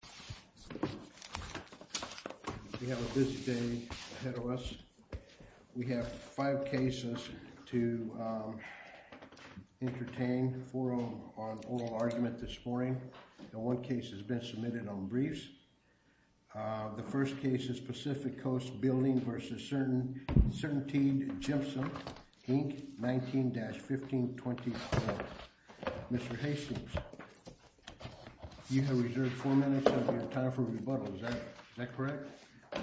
19-1524. Mr. Hastings, you have reserved four minutes of your time. Is that correct?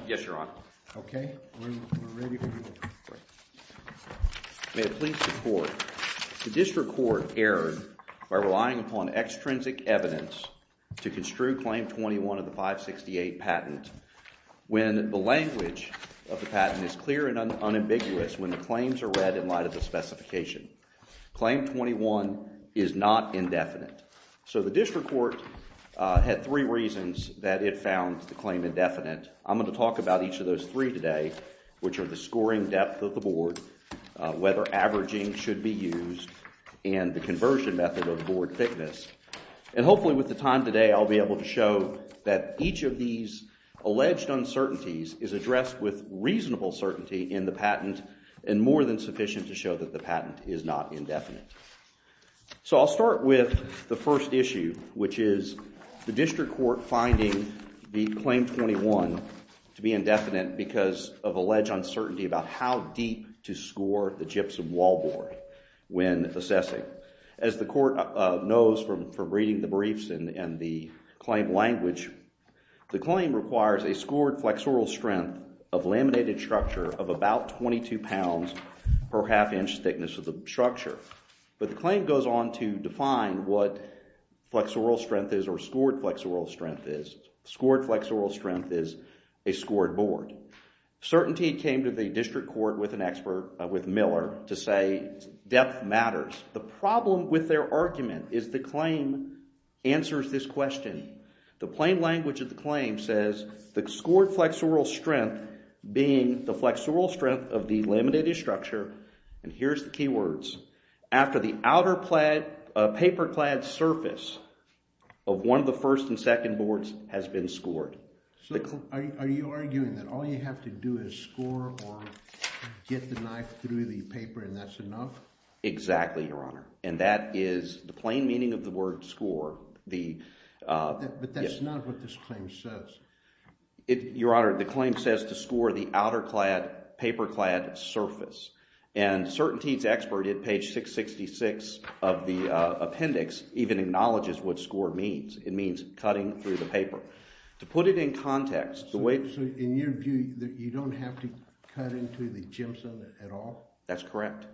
Yes, Your Honor. Okay. We're ready for you. May it please the Court. The District Court erred by relying upon extrinsic evidence to construe Claim 21 of the 568 patent when the language of the patent is clear and unambiguous when the claims are read in light of the specification. Claim 21 is not indefinite. So the District Court had three reasons that it found the claim indefinite. I'm going to talk about each of those three today, which are the scoring depth of the board, whether averaging should be used, and the conversion method of board thickness. And hopefully with the time today I'll be able to show that each of these alleged uncertainties is addressed with reasonable certainty in the patent and more than sufficient to show that the patent is not indefinite. So I'll start with the first issue, which is the District Court finding Claim 21 to be indefinite because of alleged uncertainty about how deep to score the gypsum wall board when assessing. As the Court knows from reading the briefs and the claim language, the claim requires a scored flexural strength of laminated structure of about 22 pounds per half inch thickness of the structure. But the claim goes on to define what flexural strength is or scored flexural strength is. Scored flexural strength is a scored board. Certainty came to the District Court with an expert, with Miller, to say depth matters. The problem with their argument is the claim answers this question. The plain language of the claim says the scored flexural strength being the flexural strength of the laminated structure, and here's the key words, after the outer paper clad surface of one of the first and second boards has been scored. So are you arguing that all you have to do is score or get the knife through the paper and that's enough? Exactly, Your Honor. And that is the plain meaning of the word score. But that's not what this claim says. Your Honor, the claim says to score the outer clad, paper clad surface. And Certainty's expert at page 666 of the appendix even acknowledges what score means. It means cutting through the paper. To put it in context, the way So in your view, you don't have to cut into the gypsum at all? That's correct.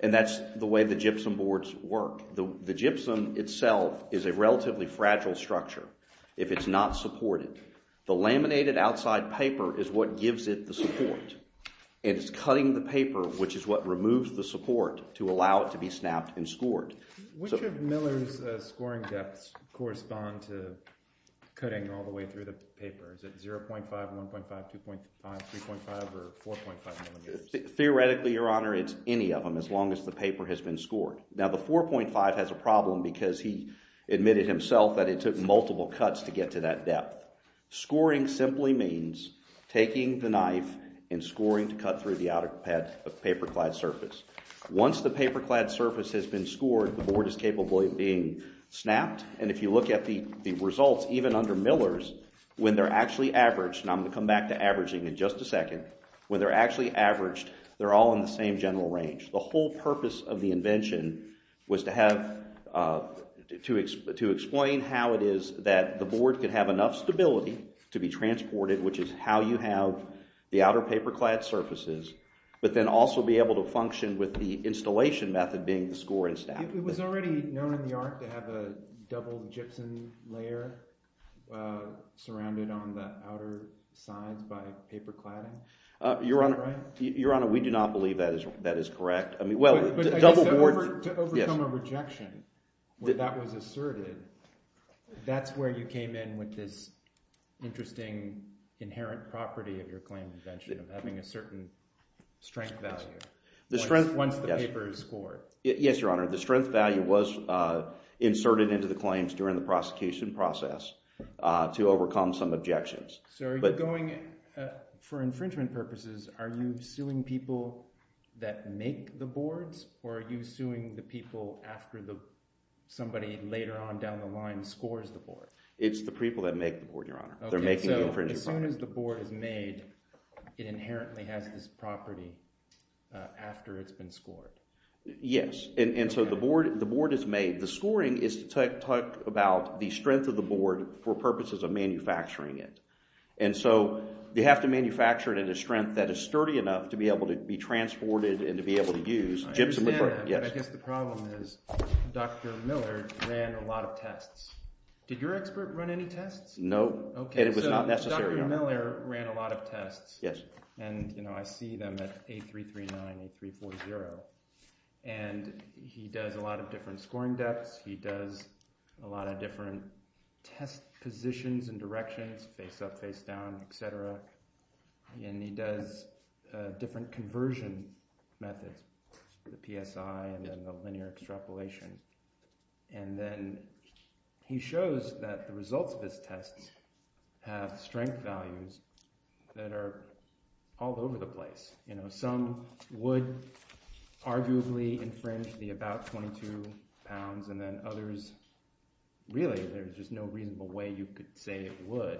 And that's the way the gypsum boards work. The gypsum itself is a relatively fragile structure. If it's not supported, the laminated outside paper is what gives it the support. And it's cutting the paper, which is what removes the support, to allow it to be snapped and scored. Which of Miller's scoring depths correspond to cutting all the way through the paper? Is it 0.5, 1.5, 2.5, 3.5, or 4.5 millimeters? Theoretically, Your Honor, it's any of them as long as the paper has been scored. Now the 4.5 has a problem because he admitted himself that it took multiple cuts to get to that depth. Scoring simply means taking the knife and scoring to cut through the outer clad, paper clad surface. Once the paper clad surface has been scored, the board is capable of being snapped. And if you look at the results, even under Miller's, when they're actually averaged, and I'm going to come back to averaging in just a second, when they're actually averaged, they're all in the same general range. The whole purpose of the invention was to have, to explain how it is that the board could have enough stability to be transported, which is how you have the outer paper clad surfaces, but then also be able to function with the installation method being the score and snap. It was already known in the art to have a double gypsum layer surrounded on the outer sides by paper cladding? Your Honor, we do not believe that is correct. To overcome a rejection, where that was asserted, that's where you came in with this interesting inherent property of your claim invention, of having a certain strength value, once the paper is scored. Yes, Your Honor. The strength value was inserted into the claims during the prosecution process to overcome some objections. So, for infringement purposes, are you suing people that make the boards, or are you suing the people after somebody later on down the line scores the board? It's the people that make the board, Your Honor. They're making the infringement. So, as soon as the board is made, it inherently has this property after it's been scored? Yes, and so the board is made, the scoring is to talk about the strength of the board for purposes of manufacturing it. And so, you have to manufacture it at a strength that is sturdy enough to be able to be transported and to be able to use gypsum. I understand that, but I guess the problem is Dr. Miller ran a lot of tests. Did your expert run any tests? No. Okay, so Dr. Miller ran a lot of tests. Yes. And, you know, I see them at A339, A340, and he does a lot of different scoring depths, he does a lot of different test positions and directions, face up, face down, etc. And he does different conversion methods, the PSI and the linear extrapolation. And then he shows that the results of his tests have strength values that are all over the place. You know, some would arguably infringe the about 22 pounds, and then others, really, there's just no reasonable way you could say it would.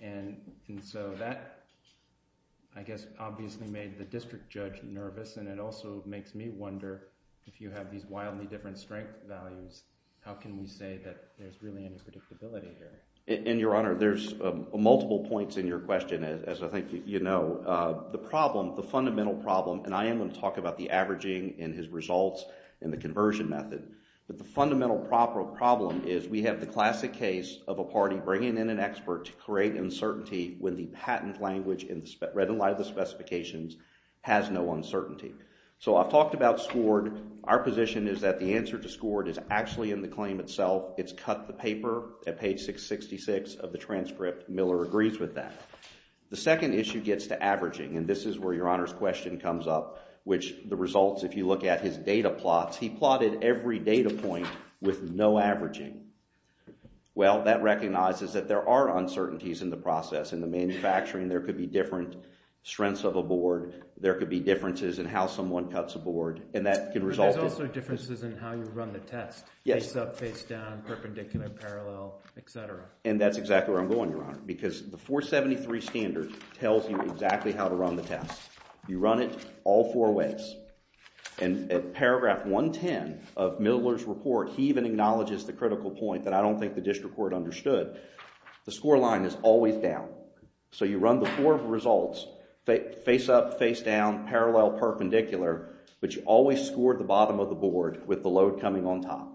And so that, I guess, obviously made the district judge nervous, and it also makes me wonder if you have these wildly different strength values, how can we say that there's really any predictability here? And, Your Honor, there's multiple points in your question, as I think you know. The problem, the fundamental problem, and I am going to talk about the averaging and his results and the conversion method, but the fundamental problem is we have the classic case of a party bringing in an expert to create uncertainty when the patent language, read in light of the specifications, has no uncertainty. So I've talked about SCORD. Our position is that the answer to SCORD is actually in the claim itself. It's cut the paper at page 666 of the transcript. Miller agrees with that. The second issue gets to averaging, and this is where Your Honor's question comes up, which the results, if you look at his data plots, he plotted every data point with no averaging. Well, that recognizes that there are uncertainties in the process. In the manufacturing, there could be different strengths of a board. There could be differences in how someone cuts a board, and that can result in… And that's exactly where I'm going, Your Honor, because the 473 standard tells you exactly how to run the test. You run it all four ways, and at paragraph 110 of Miller's report, he even acknowledges the critical point that I don't think the district court understood. The score line is always down. So you run the four results, face up, face down, parallel, perpendicular, but you always score the bottom of the board with the load coming on top.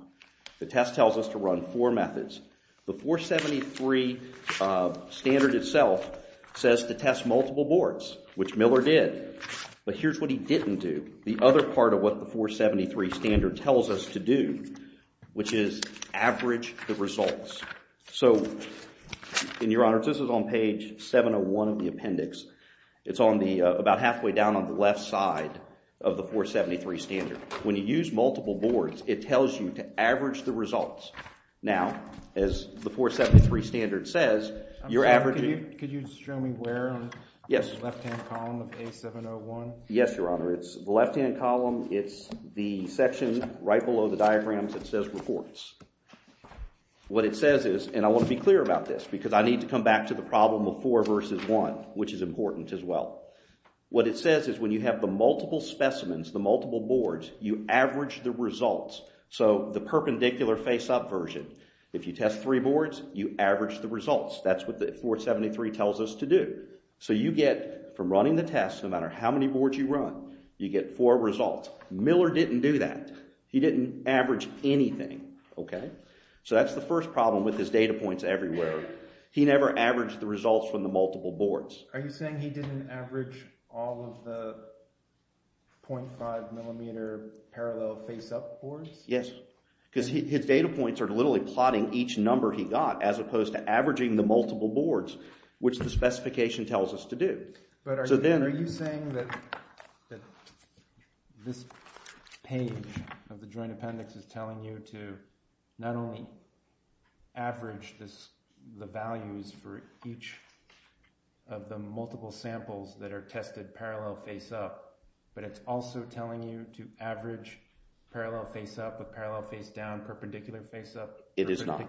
The test tells us to run four methods. The 473 standard itself says to test multiple boards, which Miller did. But here's what he didn't do. The other part of what the 473 standard tells us to do, which is average the results. So, Your Honor, this is on page 701 of the appendix. It's about halfway down on the left side of the 473 standard. When you use multiple boards, it tells you to average the results. Now, as the 473 standard says, you're averaging… Could you show me where on the left-hand column of A701? Yes, Your Honor. It's the left-hand column. It's the section right below the diagrams that says reports. What it says is, and I want to be clear about this because I need to come back to the problem of four versus one, which is important as well. What it says is when you have the multiple specimens, the multiple boards, you average the results. So, the perpendicular face-up version. If you test three boards, you average the results. That's what the 473 tells us to do. So you get, from running the test, no matter how many boards you run, you get four results. Miller didn't do that. He didn't average anything, okay? So that's the first problem with his data points everywhere. He never averaged the results from the multiple boards. Are you saying he didn't average all of the 0.5 millimeter parallel face-up boards? Yes, because his data points are literally plotting each number he got as opposed to averaging the multiple boards, which the specification tells us to do. But are you saying that this page of the joint appendix is telling you to not only average the values for each of the multiple samples that are tested parallel face-up, but it's also telling you to average parallel face-up with parallel face-down, perpendicular face-up. It is not.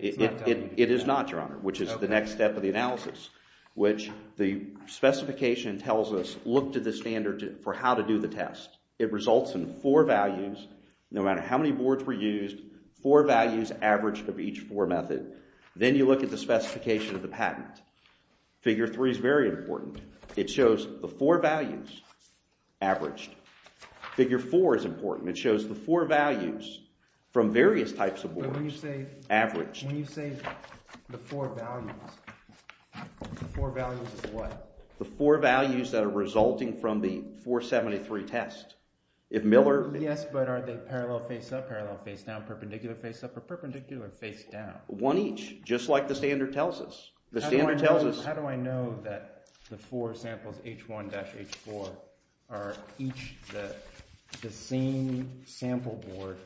It is not, Your Honor, which is the next step of the analysis, which the specification tells us, look to the standard for how to do the test. It results in four values, no matter how many boards were used, four values averaged of each four method. Then you look at the specification of the patent. Figure 3 is very important. It shows the four values averaged. Figure 4 is important. It shows the four values from various types of boards averaged. When you say the four values, the four values is what? The four values that are resulting from the 473 test. Yes, but are they parallel face-up, parallel face-down, perpendicular face-up, or perpendicular face-down? One each, just like the standard tells us. How do I know that the four samples, H1-H4, are each the same sample board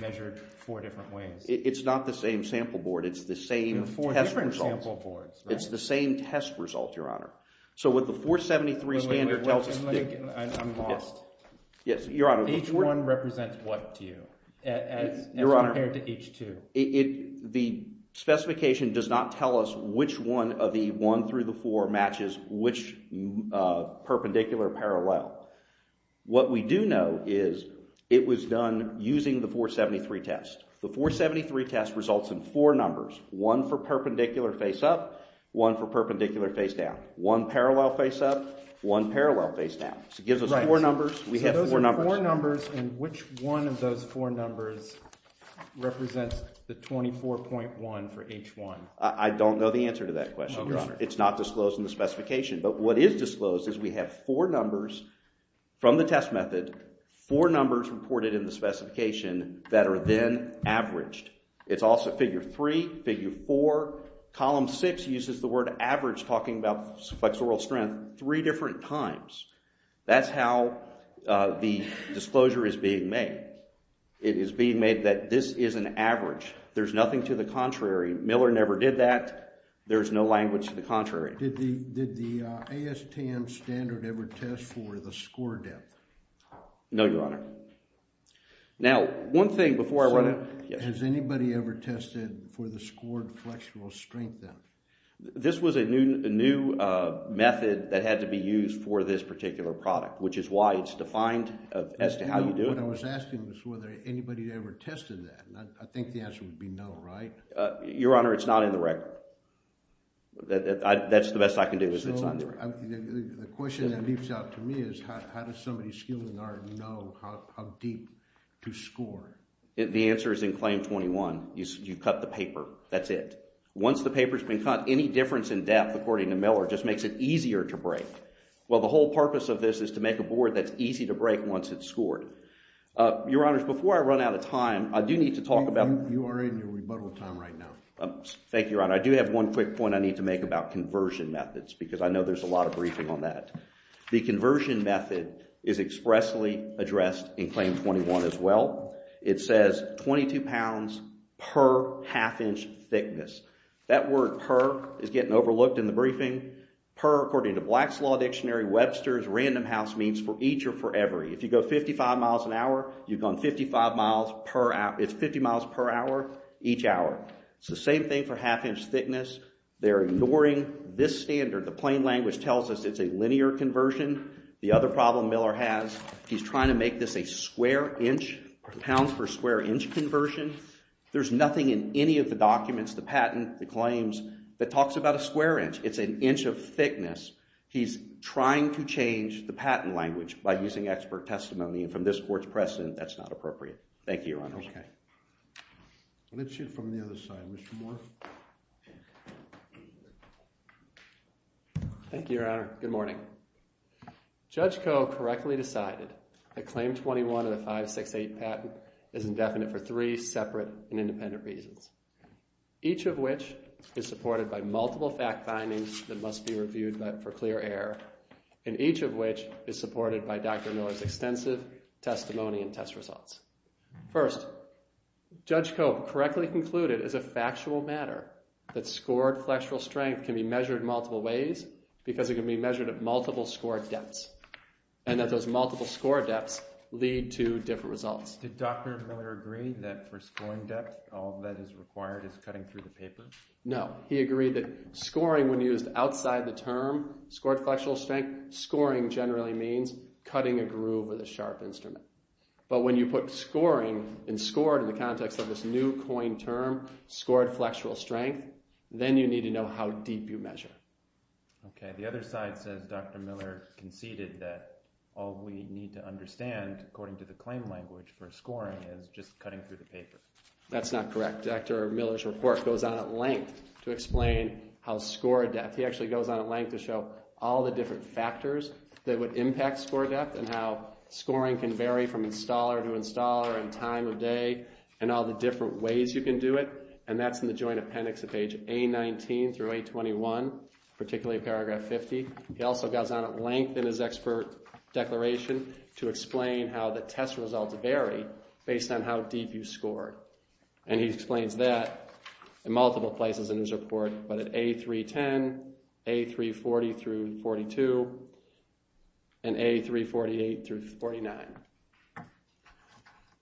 measured four different ways? It's not the same sample board. It's the same test result. It's the same test result, Your Honor. So what the 473 standard tells us… I'm lost. Yes, Your Honor. H1 represents what to you as compared to H2? The specification does not tell us which one of the one through the four matches which perpendicular parallel. What we do know is it was done using the 473 test. The 473 test results in four numbers. One for perpendicular face-up, one for perpendicular face-down. One parallel face-up, one parallel face-down. So it gives us four numbers. We have four numbers. So those are four numbers, and which one of those four numbers represents the 24.1 for H1? I don't know the answer to that question, Your Honor. It's not disclosed in the specification. But what is disclosed is we have four numbers from the test method, four numbers reported in the specification that are then averaged. It's also figure three, figure four. Column six uses the word average talking about flexural strength three different times. That's how the disclosure is being made. It is being made that this is an average. There's nothing to the contrary. Miller never did that. There's no language to the contrary. Did the ASTM standard ever test for the score depth? No, Your Honor. Now, one thing before I run out. Has anybody ever tested for the scored flexural strength then? This was a new method that had to be used for this particular product, which is why it's defined as to how you do it. What I was asking was whether anybody ever tested that. I think the answer would be no, right? Your Honor, it's not in the record. That's the best I can do is it's not in the record. So the question that leaps out to me is how does somebody skilled in art know how deep to score? The answer is in claim 21. You cut the paper. That's it. Once the paper's been cut, any difference in depth, according to Miller, just makes it easier to break. Well, the whole purpose of this is to make a board that's easy to break once it's scored. Your Honor, before I run out of time, I do need to talk about. You are in your rebuttal time right now. Thank you, Your Honor. I do have one quick point I need to make about conversion methods because I know there's a lot of briefing on that. The conversion method is expressly addressed in claim 21 as well. It says 22 pounds per half inch thickness. That word per is getting overlooked in the briefing. Per, according to Black's Law Dictionary, Webster's Random House means for each or for every. If you go 55 miles an hour, you've gone 55 miles per hour. It's 50 miles per hour each hour. It's the same thing for half inch thickness. They're ignoring this standard. The plain language tells us it's a linear conversion. The other problem Miller has, he's trying to make this a square inch, pounds per square inch conversion. There's nothing in any of the documents, the patent, the claims, that talks about a square inch. It's an inch of thickness. He's trying to change the patent language by using expert testimony. And from this court's precedent, that's not appropriate. Thank you, Your Honor. Okay. Let's hear it from the other side. Mr. Moore. Thank you, Your Honor. Good morning. Judge Koh correctly decided that claim 21 of the 568 patent is indefinite for three separate and independent reasons, each of which is supported by multiple fact findings that must be reviewed for clear error, and each of which is supported by Dr. Miller's extensive testimony and test results. First, Judge Koh correctly concluded as a factual matter that scored flexural strength can be measured multiple ways because it can be measured at multiple score depths, and that those multiple score depths lead to different results. Did Dr. Miller agree that for scoring depth, all that is required is cutting through the paper? No. He agreed that scoring, when used outside the term scored flexural strength, scoring generally means cutting a groove with a sharp instrument. But when you put scoring and scored in the context of this new coined term, scored flexural strength, then you need to know how deep you measure. Okay. The other side says Dr. Miller conceded that all we need to understand, according to the claim language for scoring, is just cutting through the paper. That's not correct. Dr. Miller's report goes on at length to explain how score depth, he actually goes on at length to show all the different factors that would impact score depth and how scoring can vary from installer to installer and time of day and all the different ways you can do it, and that's in the joint appendix at page A19 through A21, particularly paragraph 50. He also goes on at length in his expert declaration to explain how the test results vary based on how deep you scored. And he explains that in multiple places in his report, but at A310, A340 through 42, and A348 through 49.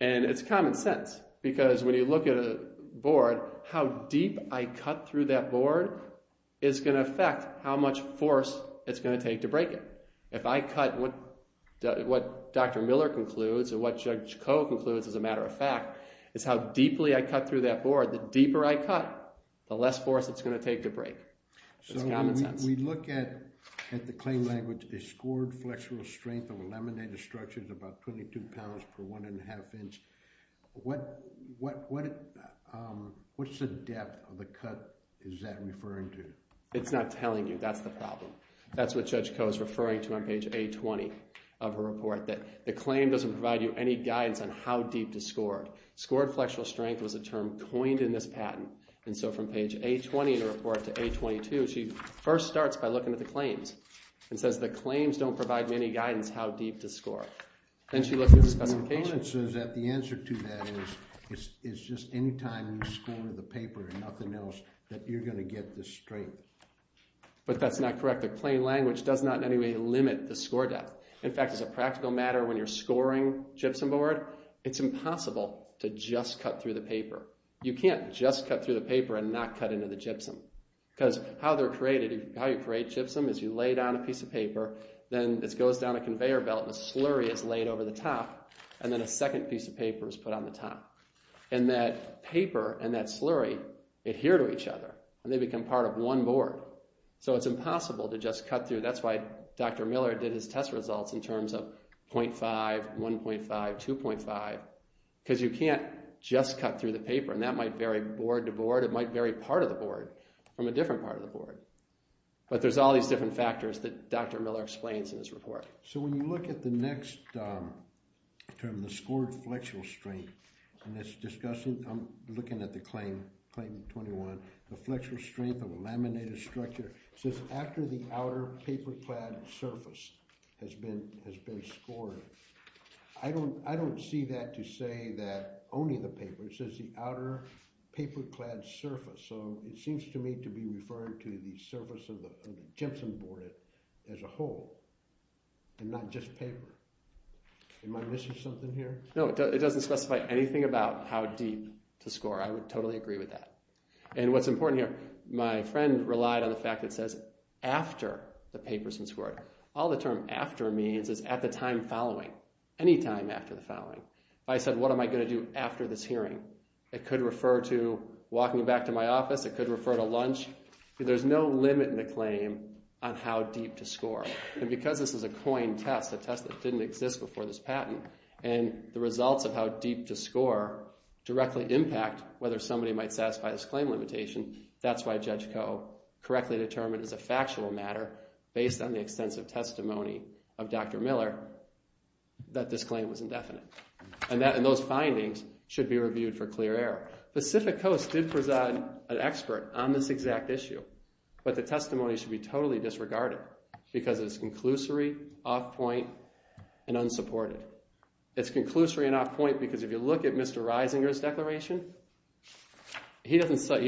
And it's common sense because when you look at a board, how deep I cut through that board is going to affect how much force it's going to take to break it. If I cut what Dr. Miller concludes or what Judge Koh concludes, as a matter of fact, is how deeply I cut through that board, the deeper I cut, the less force it's going to take to break. It's common sense. So when we look at the claim language, a scored flexural strength of a laminated structure is about 22 pounds per one and a half inch. What's the depth of the cut is that referring to? It's not telling you. That's the problem. That's what Judge Koh is referring to on page A20 of her report, that the claim doesn't provide you any guidance on how deep to score. Scored flexural strength was a term coined in this patent. And so from page A20 in her report to A22, she first starts by looking at the claims and says the claims don't provide any guidance how deep to score. Then she looks at the specification. The answer to that is just any time you score the paper and nothing else, that you're going to get this straight. But that's not correct. The claim language does not in any way limit the score depth. In fact, as a practical matter, when you're scoring gypsum board, it's impossible to just cut through the paper. You can't just cut through the paper and not cut into the gypsum. Because how you create gypsum is you lay down a piece of paper, then it goes down a conveyor belt and a slurry is laid over the top, and then a second piece of paper is put on the top. And that paper and that slurry adhere to each other, and they become part of one board. So it's impossible to just cut through. That's why Dr. Miller did his test results in terms of 0.5, 1.5, 2.5. Because you can't just cut through the paper, and that might vary board to board. It might vary part of the board from a different part of the board. But there's all these different factors that Dr. Miller explains in his report. So when you look at the next term, the scored flexural strength, and it's discussing—I'm looking at the claim, claim 21, the flexural strength of a laminated structure. It says after the outer paper-clad surface has been scored. I don't see that to say that only the paper. It says the outer paper-clad surface. So it seems to me to be referring to the surface of the gypsum board as a whole and not just paper. Am I missing something here? No, it doesn't specify anything about how deep to score. I would totally agree with that. And what's important here, my friend relied on the fact that it says after the paper's been scored. All the term after means is at the time following, any time after the following. If I said, what am I going to do after this hearing? It could refer to walking back to my office. It could refer to lunch. There's no limit in the claim on how deep to score. And because this is a coined test, a test that didn't exist before this patent, and the results of how deep to score directly impact whether somebody might satisfy this claim limitation, that's why Judge Coe correctly determined as a factual matter, based on the extensive testimony of Dr. Miller, that this claim was indefinite. And those findings should be reviewed for clear error. Pacific Coast did present an expert on this exact issue, but the testimony should be totally disregarded because it's conclusory, off-point, and unsupported. It's conclusory and off-point because if you look at Mr. Reisinger's declaration, he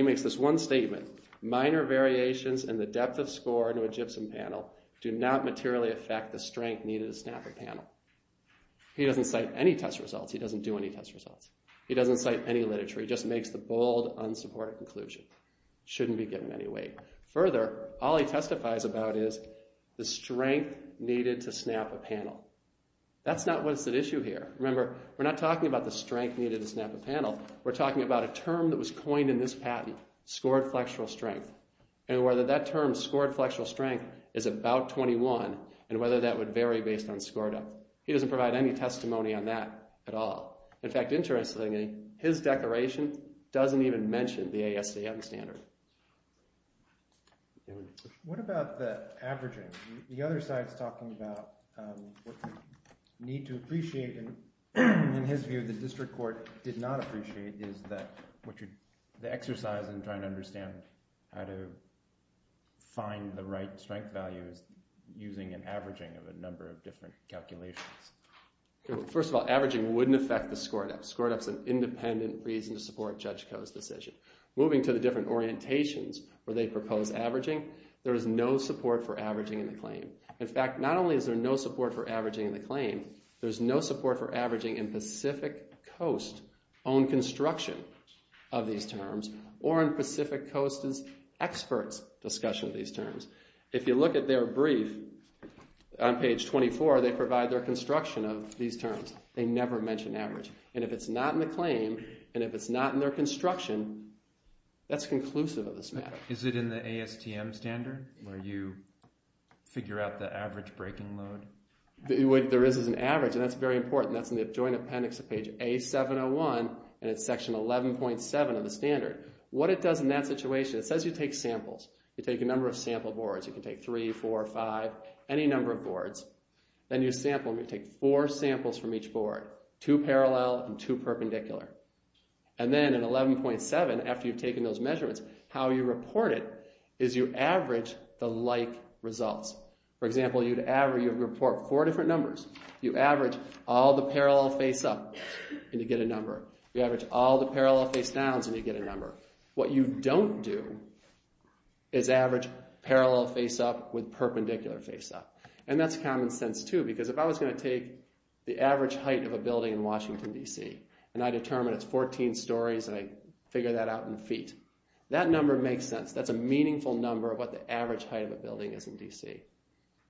makes this one statement, minor variations in the depth of score to a gypsum panel do not materially affect the strength needed to snap a panel. He doesn't cite any test results. He doesn't do any test results. He doesn't cite any literature. He just makes the bold, unsupported conclusion. Shouldn't be given any weight. Further, all he testifies about is the strength needed to snap a panel. That's not what's at issue here. Remember, we're not talking about the strength needed to snap a panel. We're talking about a term that was coined in this patent, scored flexural strength, and whether that term, scored flexural strength, is about 21, and whether that would vary based on score depth. He doesn't provide any testimony on that at all. In fact, interestingly, his declaration doesn't even mention the ASDM standard. What about the averaging? The other side is talking about what we need to appreciate, and in his view, the district court did not appreciate, is that the exercise in trying to understand how to find the right strength value is using an averaging of a number of different calculations. First of all, averaging wouldn't affect the score depth. Score depth's an independent reason to support Judge Koh's decision. Moving to the different orientations where they propose averaging, there is no support for averaging in the claim. In fact, not only is there no support for averaging in the claim, there's no support for averaging in Pacific Coast-owned construction of these terms, or in Pacific Coast's experts' discussion of these terms. If you look at their brief on page 24, they provide their construction of these terms. They never mention average, and if it's not in the claim, and if it's not in their construction, that's conclusive of this matter. Is it in the ASTM standard where you figure out the average breaking load? What there is is an average, and that's very important. That's in the joint appendix of page A701, and it's section 11.7 of the standard. What it does in that situation, it says you take samples. You take a number of sample boards. You can take three, four, five, any number of boards. Then you sample, and you take four samples from each board, two parallel and two perpendicular. Then in 11.7, after you've taken those measurements, how you report it is you average the like results. For example, you report four different numbers. You average all the parallel face-ups, and you get a number. You average all the parallel face-downs, and you get a number. What you don't do is average parallel face-up with perpendicular face-up, and that's common sense too because if I was going to take the average height of a building in Washington, D.C., and I determine it's 14 stories, and I figure that out in feet, that number makes sense. That's a meaningful number of what the average height of a building is in D.C.,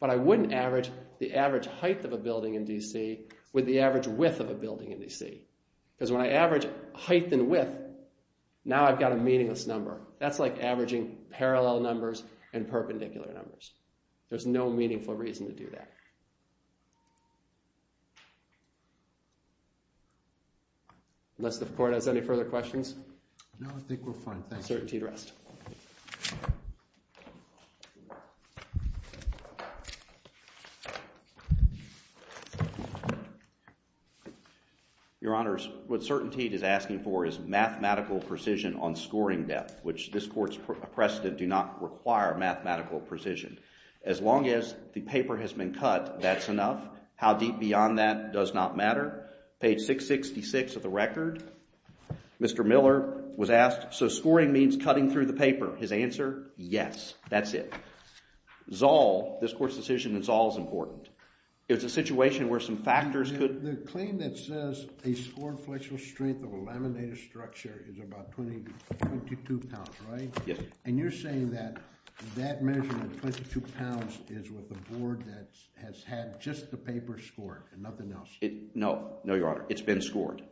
but I wouldn't average the average height of a building in D.C. with the average width of a building in D.C. because when I average height and width, now I've got a meaningless number. That's like averaging parallel numbers and perpendicular numbers. There's no meaningful reason to do that. Unless the court has any further questions. No, I think we're fine. Thanks. Certainty to rest. Your Honors, what Certainty is asking for is mathematical precision on scoring depth, which this court's precedent do not require mathematical precision. As long as the paper has been cut, that's enough. How deep beyond that does not matter. Page 666 of the record, Mr. Miller was asked, His answer, yes, that's it. Zoll, this court's decision in Zoll is important. It's a situation where some factors could No, no, Your Honor, it's been scored.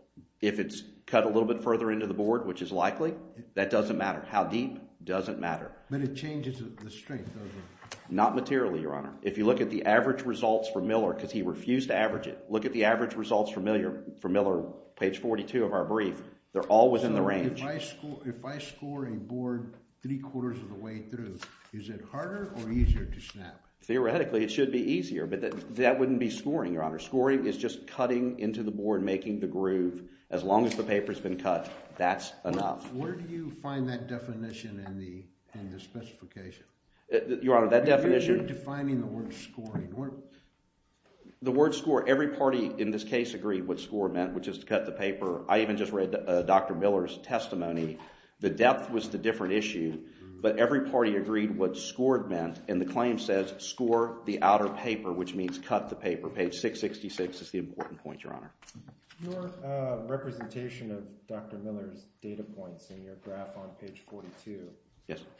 If it's cut a little bit further into the board, which is likely, that doesn't matter. How deep doesn't matter. But it changes the strength, doesn't it? Not materially, Your Honor. If you look at the average results for Miller, because he refused to average it, look at the average results for Miller, page 42 of our brief, they're all within the range. So if I score a board three quarters of the way through, is it harder or easier to snap? Theoretically, it should be easier, but that wouldn't be scoring, Your Honor. Scoring is just cutting into the board, making the groove. As long as the paper's been cut, that's enough. Where do you find that definition in the specification? Your Honor, that definition You're defining the word scoring. The word score, every party in this case agreed what score meant, which is to cut the paper. I even just read Dr. Miller's testimony. The depth was the different issue. But every party agreed what scored meant, and the claim says, score the outer paper, which means cut the paper. Page 666 is the important point, Your Honor. Your representation of Dr. Miller's data points in your graph on page 42,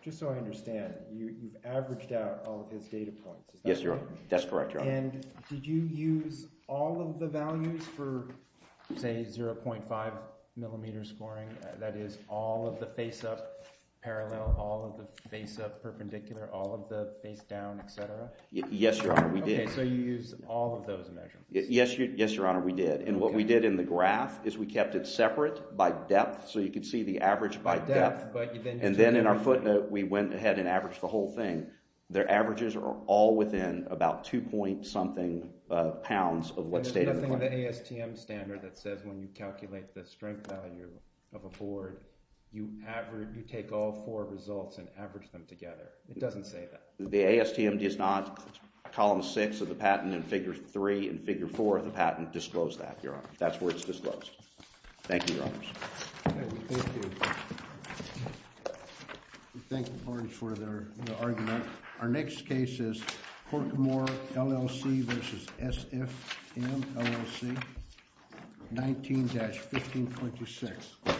just so I understand, you've averaged out all of his data points. Yes, Your Honor. That's correct, Your Honor. And did you use all of the values for, say, 0.5 millimeter scoring? That is all of the face-up parallel, all of the face-up perpendicular, all of the face-down, et cetera? Yes, Your Honor, we did. Okay, so you used all of those measurements. Yes, Your Honor, we did. And what we did in the graph is we kept it separate by depth, so you could see the average by depth. And then in our footnote, we went ahead and averaged the whole thing. Their averages are all within about 2-point-something pounds of what's stated. But there's nothing in the ASTM standard that says when you calculate the strength value of a board, you take all four results and average them together. It doesn't say that. The ASTM does not. Column 6 of the patent and Figure 3 and Figure 4 of the patent disclose that, Your Honor. That's where it's disclosed. Thank you, Your Honors. Okay, thank you. We thank the parties for their argument. Our next case is Horkamore, LLC v. SFM, LLC, 19-1526.